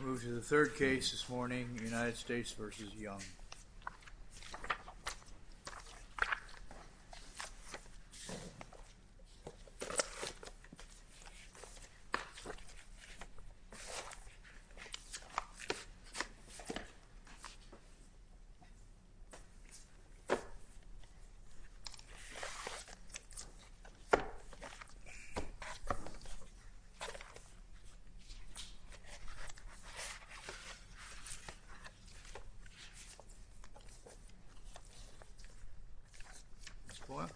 We'll move to the third case this morning, United States v. Young. Ms. Boyle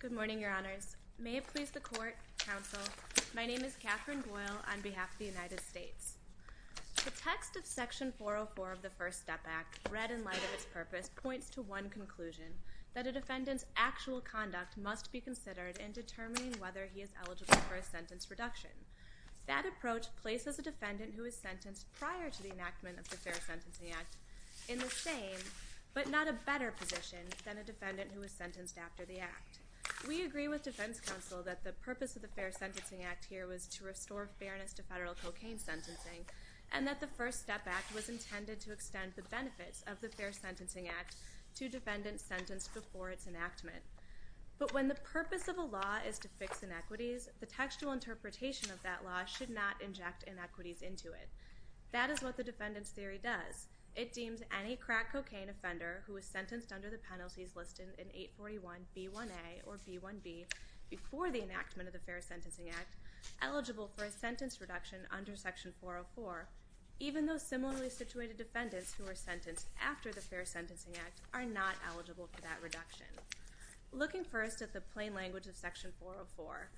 Good morning, Your Honors. May it please the Court, Counsel, my name is Katherine Boyle on behalf of the United States. The text of section 404 of the First Step Act, read in light of its purpose, points to one conclusion that a defendant's actual conduct must be considered in determining whether he is eligible for a sentence reduction. That approach places a defendant who is sentenced prior to the enactment of the Fair Sentencing Act in the same, but not a better, position than a defendant who is sentenced after the act. We agree with defense counsel that the purpose of the Fair Sentencing Act here was to restore fairness to federal cocaine sentencing, and that the First Step Act was intended to extend the benefits of the Fair Sentencing Act to defendant sentenced before its enactment. But when the purpose of a law is to fix inequities, the textual interpretation of that law should not inject inequities into it. That is what the defendant's theory does. It deems any crack cocaine offender who is sentenced under the penalties listed in 841B1A or B1B before the enactment of the Fair Sentencing Act eligible for a sentence reduction under section 404, even though similarly situated defendants who are sentenced after the Fair Sentencing Act are not eligible for that reduction. Looking first at the plain language of section 404,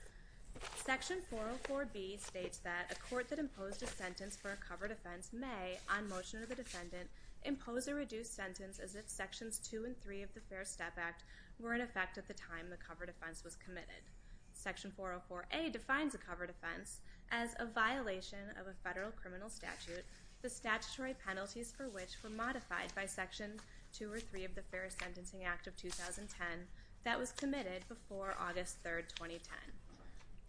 section 404B states that a court that imposed a sentence for a covered offense may, on motion of a defendant, impose a reduced sentence as if sections 2 and 3 of the Fair Step Act were in effect at the time the covered offense was committed. Section 404A defines a covered offense as a violation of a federal criminal statute, the statutory penalties for which were modified by section 2 or 3 of the Fair Sentencing Act of 2010 that was committed before August 3, 2010.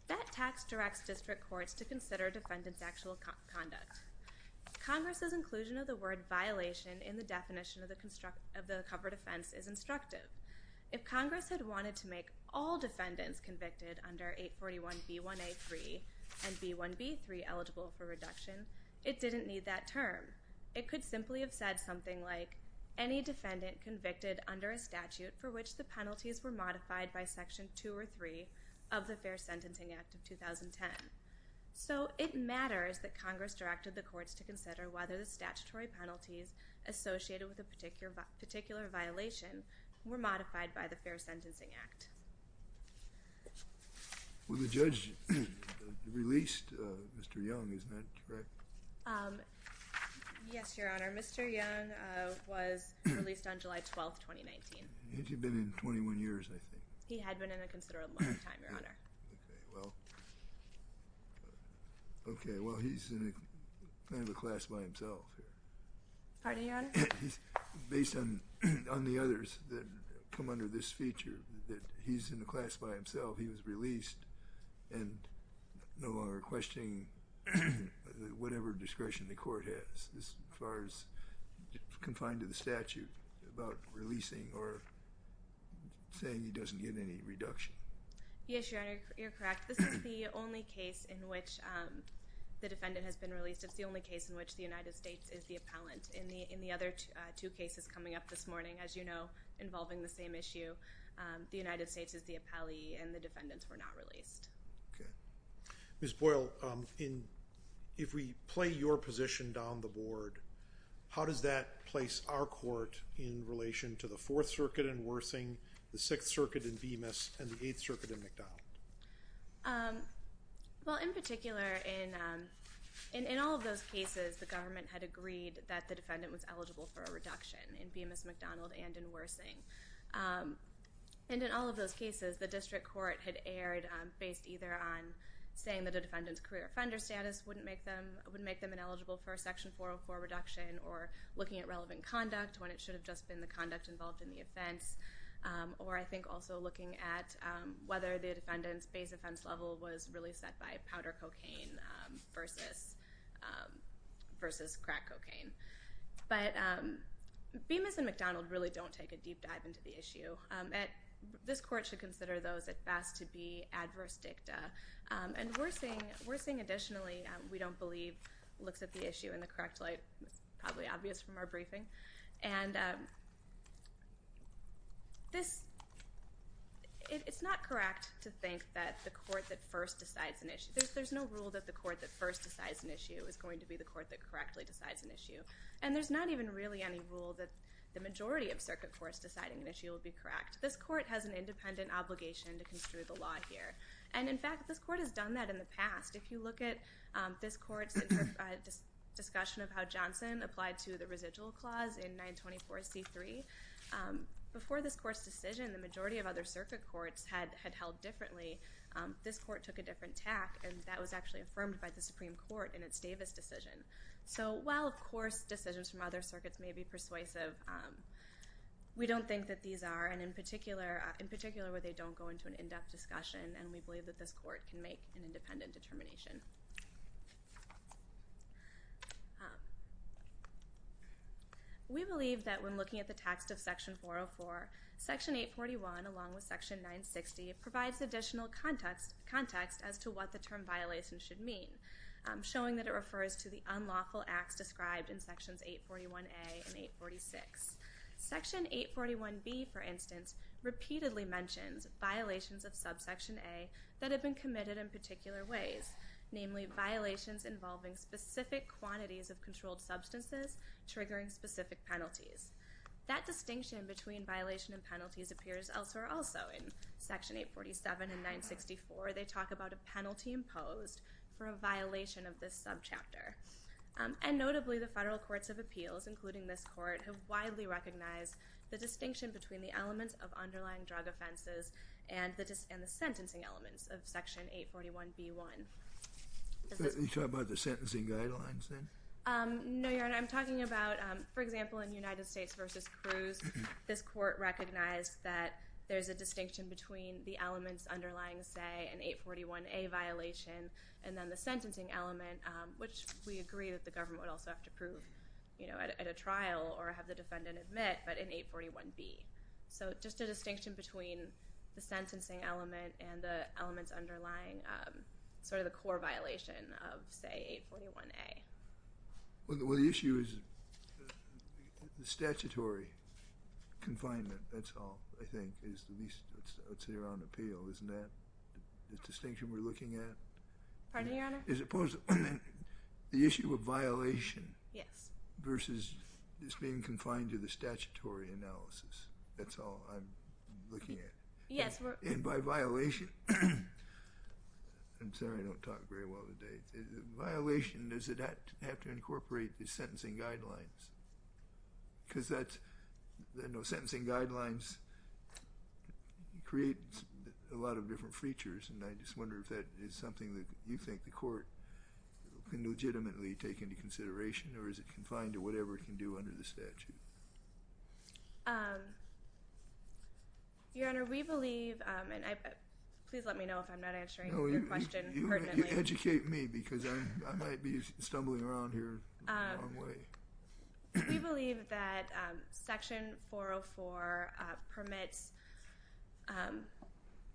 That text directs district courts to consider defendants' actual conduct. Congress's inclusion of the word violation in the definition of the covered offense is instructive. If Congress had wanted to make all defendants convicted under 841B1A3 and B1B3 eligible for reduction, it didn't need that term. It could simply have said something like, any defendant convicted under a statute for which the penalties were modified by section 2 or 3 of the Fair Sentencing Act of 2010. So it matters that Congress directed the courts to consider whether the statutory penalties were in effect. Well, the judge released Mr. Young, isn't that correct? Yes, Your Honor. Mr. Young was released on July 12, 2019. Hadn't he been in 21 years, I think? He had been in a considerable amount of time, Your Honor. Okay, well, he's in kind of a class by himself here. Pardon me, Your Honor? Based on the others that come under this feature, that he's in a class by himself, he was released and no longer questioning whatever discretion the court has as far as confined to the statute about releasing or saying he doesn't get any reduction. Yes, Your Honor, you're correct. This is the only case in which the defendant has been the appellant. In the other two cases coming up this morning, as you know, involving the same issue, the United States is the appellee and the defendants were not released. Okay. Ms. Boyle, if we play your position down the board, how does that place our court in relation to the Fourth Circuit in Worthing, the Sixth Circuit in Bemis, and the Eighth Circuit in MacDonald? Well, in particular, in all of those cases, the government had agreed that the defendant was eligible for a reduction in Bemis-MacDonald and in Worthing. And in all of those cases, the district court had erred based either on saying that the defendant's career offender status wouldn't make them ineligible for a Section 404 reduction or looking at relevant conduct when it should have just been the conduct involved in the offense or I think also looking at whether the defendant's base offense level was really set by powder cocaine versus crack cocaine. But Bemis and MacDonald really don't take a deep dive into the issue. This court should consider those at best to be adverse dicta. And Worthing, additionally, we don't believe looks at the issue in the correct light. It's probably obvious from our briefing. And this, it's not correct to think that the court that first decides an issue, there's no rule that the court that first decides an issue is going to be the court that correctly decides an issue. And there's not even really any rule that the majority of circuit courts deciding an issue will be correct. This court has an independent obligation to construe the law here. And in fact, this court has done that in the past. If you look at this court's discussion of how Johnson applied to the residual clause in 924C3, before this court's decision, the majority of other circuit courts had held differently. This court took a different tack, and that was actually affirmed by the Supreme Court in its Davis decision. So while, of course, decisions from other circuits may be persuasive, we don't think that these are, and in particular where they don't go into an in-depth discussion, and we believe that this court can make an independent determination. We believe that when looking at the text of Section 404, Section 841, along with Section 960, provides additional context as to what the term violation should mean, showing that it refers to the unlawful acts described in Sections 841A and 846. Section 841B, for instance, repeatedly mentions violations of subsection A that have been committed in particular ways, namely violations involving specific quantities of controlled substances triggering specific penalties. That distinction between violation and penalties appears elsewhere also. In Section 847 and 964, they talk about a penalty imposed for a violation of this subchapter. And notably, the federal courts of appeals, including this court, have widely recognized the distinction between the elements of underlying drug offenses and the sentencing elements of Section 841B-1. You're talking about the sentencing guidelines then? No, Your Honor. I'm talking about, for example, in United States v. Cruz, this court recognized that there's a distinction between the elements underlying, say, an 841A violation and then the sentencing element, which we agree that the government would also have to prove at a trial or have the defendant admit, but in 841B. So just a distinction between the sentencing element and the elements underlying sort of the core violation of, say, 841A. Well, the issue is the statutory confinement, that's all, I think, is the least I would say around appeal, isn't that the distinction we're looking at? Pardon me, Your Honor? As opposed to the issue of violation versus this being confined to the statutory analysis, that's all I'm looking at. And by violation, I'm sorry I don't talk very well today, violation, does it have to incorporate the sentencing guidelines? Because sentencing guidelines create a lot of different features, and I just wonder if that is something that you think the court can legitimately take into consideration, or is it confined to whatever it can do under the statute? Your Honor, we believe, and please let me know if I'm not answering your question pertinently. No, you educate me, because I might be stumbling around here the wrong way. We believe that Section 404 permits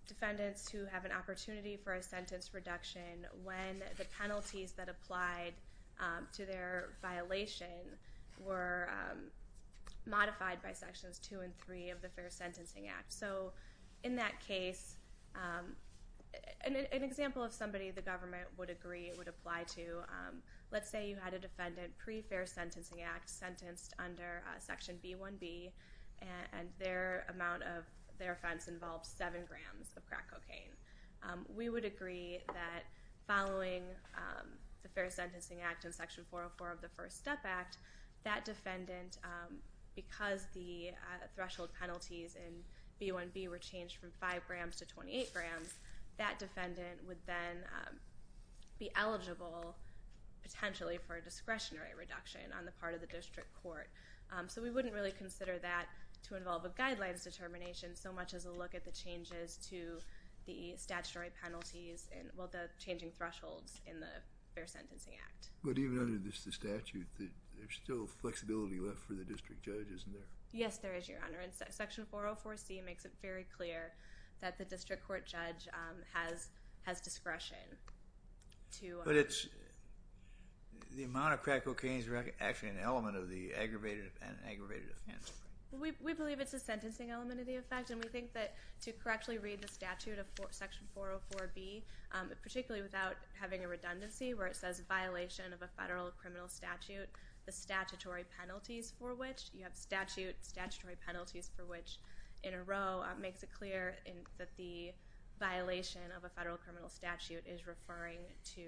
defendants who have an opportunity for a sentence reduction when the penalties that applied to their violation were modified by Sections 2 and 3 of the Fair Sentencing Act. So in that case, an example of somebody the government would agree it would apply to, let's say you had a defendant pre-Fair Sentencing Act sentenced under Section B1B, and their amount of their offense involves 7 grams of crack cocaine. We would agree that following the Fair Sentencing Act and Section 404 of the First Step Act, that defendant, because the threshold penalties in B1B were changed from 5 grams to 28 grams, that defendant would then be eligible potentially for a discretionary reduction on the part of the district court. So we wouldn't really consider that to involve a guidelines determination so much as a look at the changes to the statutory penalties, well, the changing thresholds in the Fair Sentencing Act. But even under the statute, there's still flexibility left for the district judge, isn't there? Yes, there is, Your Honor, and Section 404C makes it very clear that the district court judge has discretion to... But it's, the amount of crack cocaine is actually an element of the aggravated offense. We believe it's a sentencing element of the offense, and we think that to correctly read the statute of Section 404B, particularly without having a redundancy where it says, violation of a federal criminal statute, the statutory penalties for which, you have statute, statutory penalties for which, in a row, makes it clear that the violation of a federal criminal statute is referring to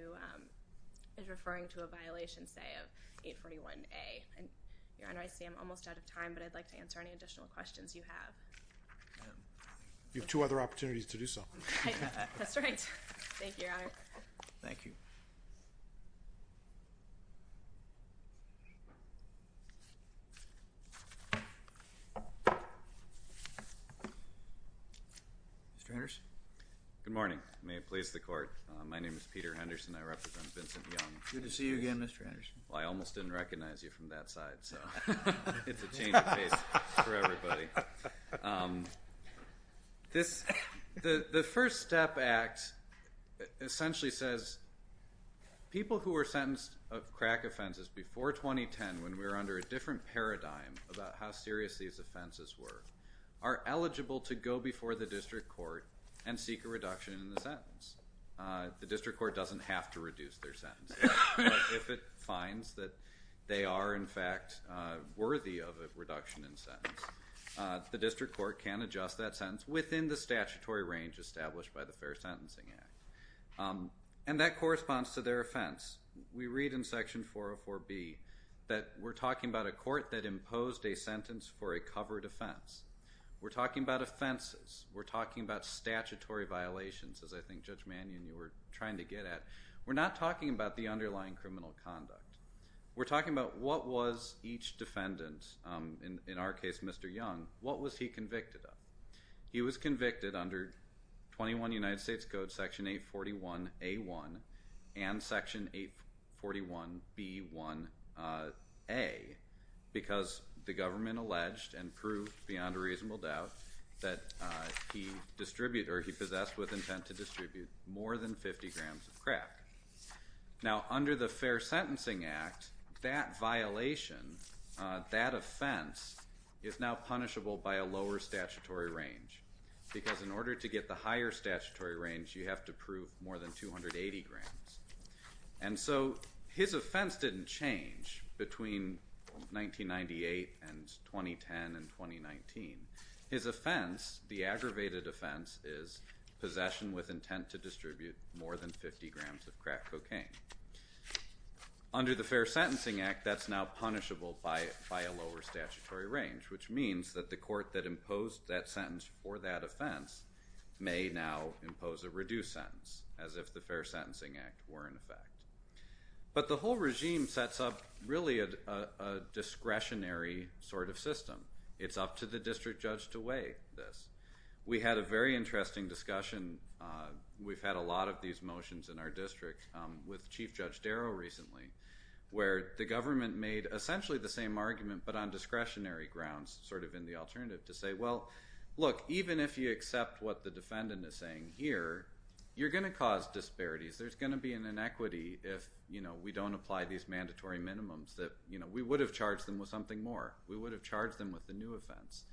a violation, say, of 841A. Your Honor, I see I'm almost out of time, but I'd like to answer any additional questions you have. You have two other opportunities to do so. That's right. Thank you, Your Honor. Thank you. Mr. Henderson. Good morning. May it please the court. My name is Peter Henderson. I represent Vincent Young. Good to see you again, Mr. Henderson. Well, I almost didn't recognize you from that side, so it's a change of pace for everybody. The First Step Act essentially says people who were sentenced of crack offenses before 2010, when we were under a different paradigm about how serious these offenses were, are eligible to go before the district court and seek a reduction in the sentence. The district court doesn't have to reduce their sentence. If it finds that they are, in fact, worthy of a reduction in sentence, the district court can adjust that sentence within the statutory range established by the Fair Sentencing Act. And that corresponds to their offense. We read in Section 404B that we're talking about a court that imposed a sentence for a covered offense. We're talking about offenses. We're talking about statutory violations, as I think Judge Mannion, you were trying to get at. We're not talking about the underlying criminal conduct. We're talking about what was each defendant, in our case, Mr. Young, what was he convicted of. He was convicted under 21 United States Code Section 841A1 and Section 841B1A because the government alleged and proved, beyond a reasonable doubt, that he possessed with intent to distribute more than 50 grams of crack. Now, under the Fair Sentencing Act, that violation, that offense, is now punishable by a lower statutory range because in order to get the higher statutory range, you have to prove more than 280 grams. And so his offense didn't change between 1998 and 2010 and 2019. His offense, the aggravated offense, is possession with intent to distribute more than 50 grams of crack cocaine. Under the Fair Sentencing Act, that's now punishable by a lower statutory range, which means that the court that imposed that sentence for that offense may now impose a reduced sentence, as if the Fair Sentencing Act were in effect. But the whole regime sets up really a discretionary sort of system. It's up to the district judge to weigh this. We had a very interesting discussion. We've had a lot of these motions in our district with Chief Judge Darrow recently, where the government made essentially the same argument but on discretionary grounds, sort of in the alternative, to say, well, look, even if you accept what the defendant is saying here, you're going to cause disparities. There's going to be an inequity if we don't apply these mandatory minimums, that we would have charged them with something more. We would have charged them with a new offense.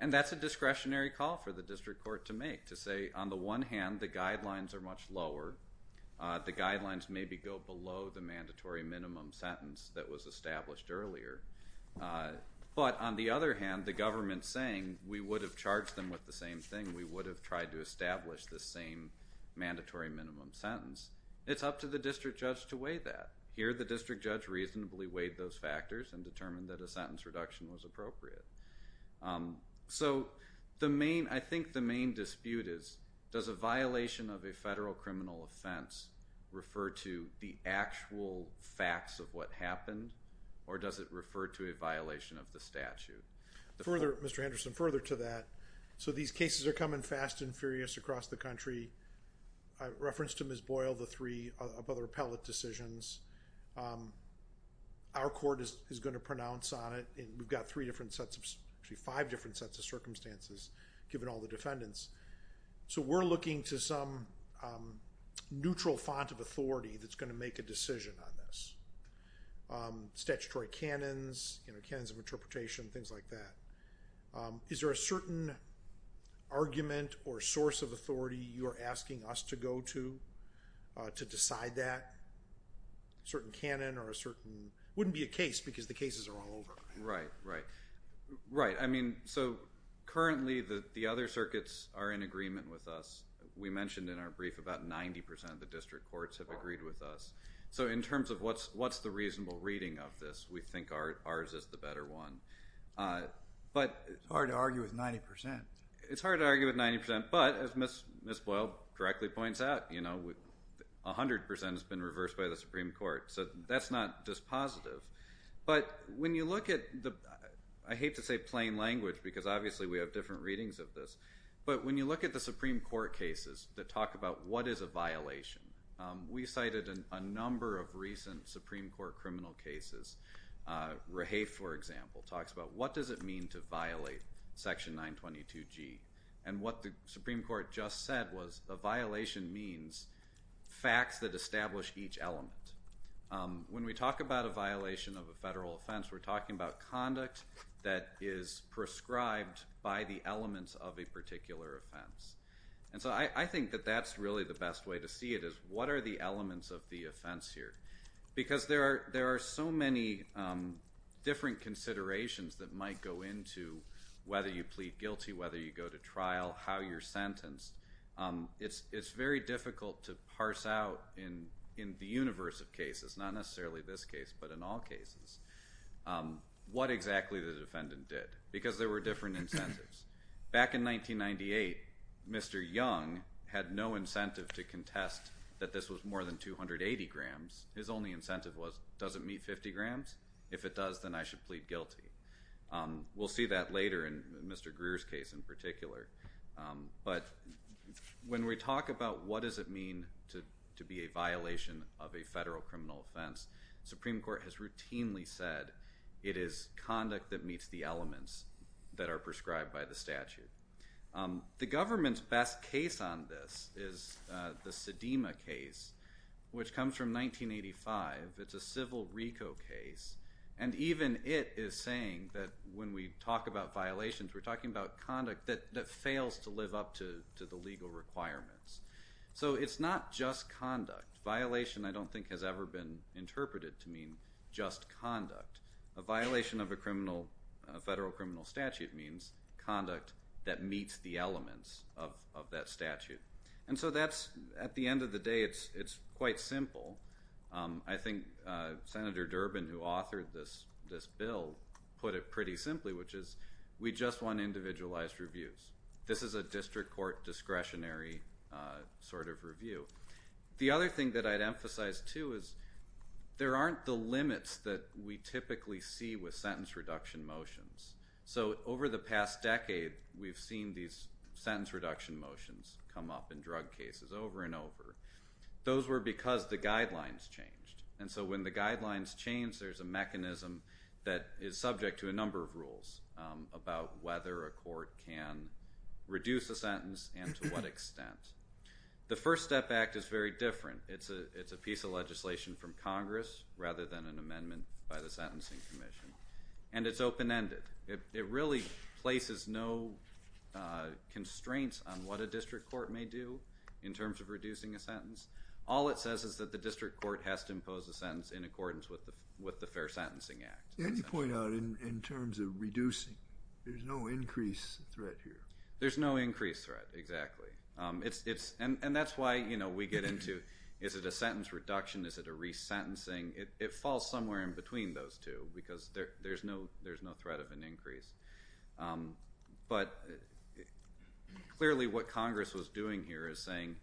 And that's a discretionary call for the district court to make, to say, on the one hand, the guidelines are much lower. The guidelines maybe go below the mandatory minimum sentence that was established earlier. But on the other hand, the government is saying we would have charged them with the same thing. We would have tried to establish the same mandatory minimum sentence. It's up to the district judge to weigh that. Here the district judge reasonably weighed those factors and determined that a sentence reduction was appropriate. So I think the main dispute is, does a violation of a federal criminal offense refer to the actual facts of what happened, or does it refer to a violation of the statute? Further, Mr. Henderson, further to that. So these cases are coming fast and furious across the country. I referenced to Ms. Boyle the three of other appellate decisions. Our court is going to pronounce on it, and we've got three different sets of, actually five different sets of circumstances, given all the defendants. So we're looking to some neutral font of authority that's going to make a decision on this. Statutory canons, canons of interpretation, things like that. Is there a certain argument or source of authority you're asking us to go to to decide that? A certain canon or a certain – it wouldn't be a case because the cases are all over. Right, right. I mean, so currently the other circuits are in agreement with us. We mentioned in our brief about 90% of the district courts have agreed with us. So in terms of what's the reasonable reading of this, we think ours is the better one. It's hard to argue with 90%. It's hard to argue with 90%, but as Ms. Boyle directly points out, 100% has been reversed by the Supreme Court. So that's not just positive. But when you look at the – I hate to say plain language because obviously we have different readings of this. But when you look at the Supreme Court cases that talk about what is a violation, we cited a number of recent Supreme Court criminal cases. Rahay, for example, talks about what does it mean to violate Section 922G. And what the Supreme Court just said was a violation means facts that establish each element. When we talk about a violation of a federal offense, we're talking about conduct that is prescribed by the elements of a particular offense. And so I think that that's really the best way to see it is what are the elements of the offense here? Because there are so many different considerations that might go into whether you plead guilty, whether you go to trial, how you're sentenced. It's very difficult to parse out in the universe of cases, not necessarily this case, but in all cases, what exactly the defendant did because there were different incentives. Back in 1998, Mr. Young had no incentive to contest that this was more than 280 grams. His only incentive was does it meet 50 grams? If it does, then I should plead guilty. We'll see that later in Mr. Greer's case in particular. But when we talk about what does it mean to be a violation of a federal criminal offense, the Supreme Court has routinely said it is conduct that meets the elements that are prescribed by the statute. The government's best case on this is the Sedema case, which comes from 1985. It's a civil RICO case. And even it is saying that when we talk about violations, we're talking about conduct that fails to live up to the legal requirements. So it's not just conduct. Violation, I don't think, has ever been interpreted to mean just conduct. A violation of a federal criminal statute means conduct that meets the elements of that statute. And so at the end of the day, it's quite simple. I think Senator Durbin, who authored this bill, put it pretty simply, which is we just want individualized reviews. This is a district court discretionary sort of review. The other thing that I'd emphasize too is there aren't the limits that we typically see with sentence reduction motions. So over the past decade, we've seen these sentence reduction motions come up in drug cases over and over. Those were because the guidelines changed. And so when the guidelines change, there's a mechanism that is subject to a number of rules about whether a court can reduce a sentence and to what extent. The First Step Act is very different. It's a piece of legislation from Congress rather than an amendment by the Sentencing Commission. And it's open-ended. It really places no constraints on what a district court may do in terms of reducing a sentence. All it says is that the district court has to impose a sentence in accordance with the Fair Sentencing Act. And you point out in terms of reducing, there's no increased threat here. There's no increased threat, exactly. And that's why we get into, is it a sentence reduction? Is it a resentencing? It falls somewhere in between those two because there's no threat of an increase. But clearly what Congress was doing here is saying,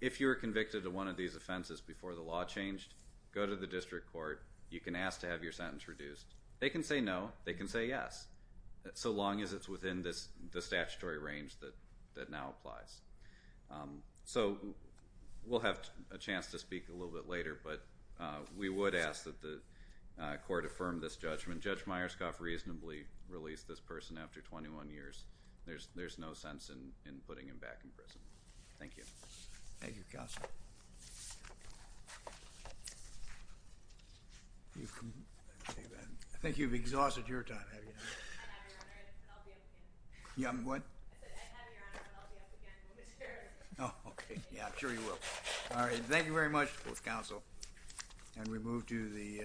if you're convicted of one of these offenses before the law changed, go to the district court. You can ask to have your sentence reduced. They can say no. They can say yes, so long as it's within the statutory range that now applies. So we'll have a chance to speak a little bit later, but we would ask that the court affirm this judgment. Judge Myerscoff reasonably released this person after 21 years. There's no sense in putting him back in prison. Thank you. Thank you, Counselor. I think you've exhausted your time. I'll be up again. What? I said, I have your honor, but I'll be up again. Oh, okay. Yeah, I'm sure you will. All right. Thank you very much, both counsel. And we move to the…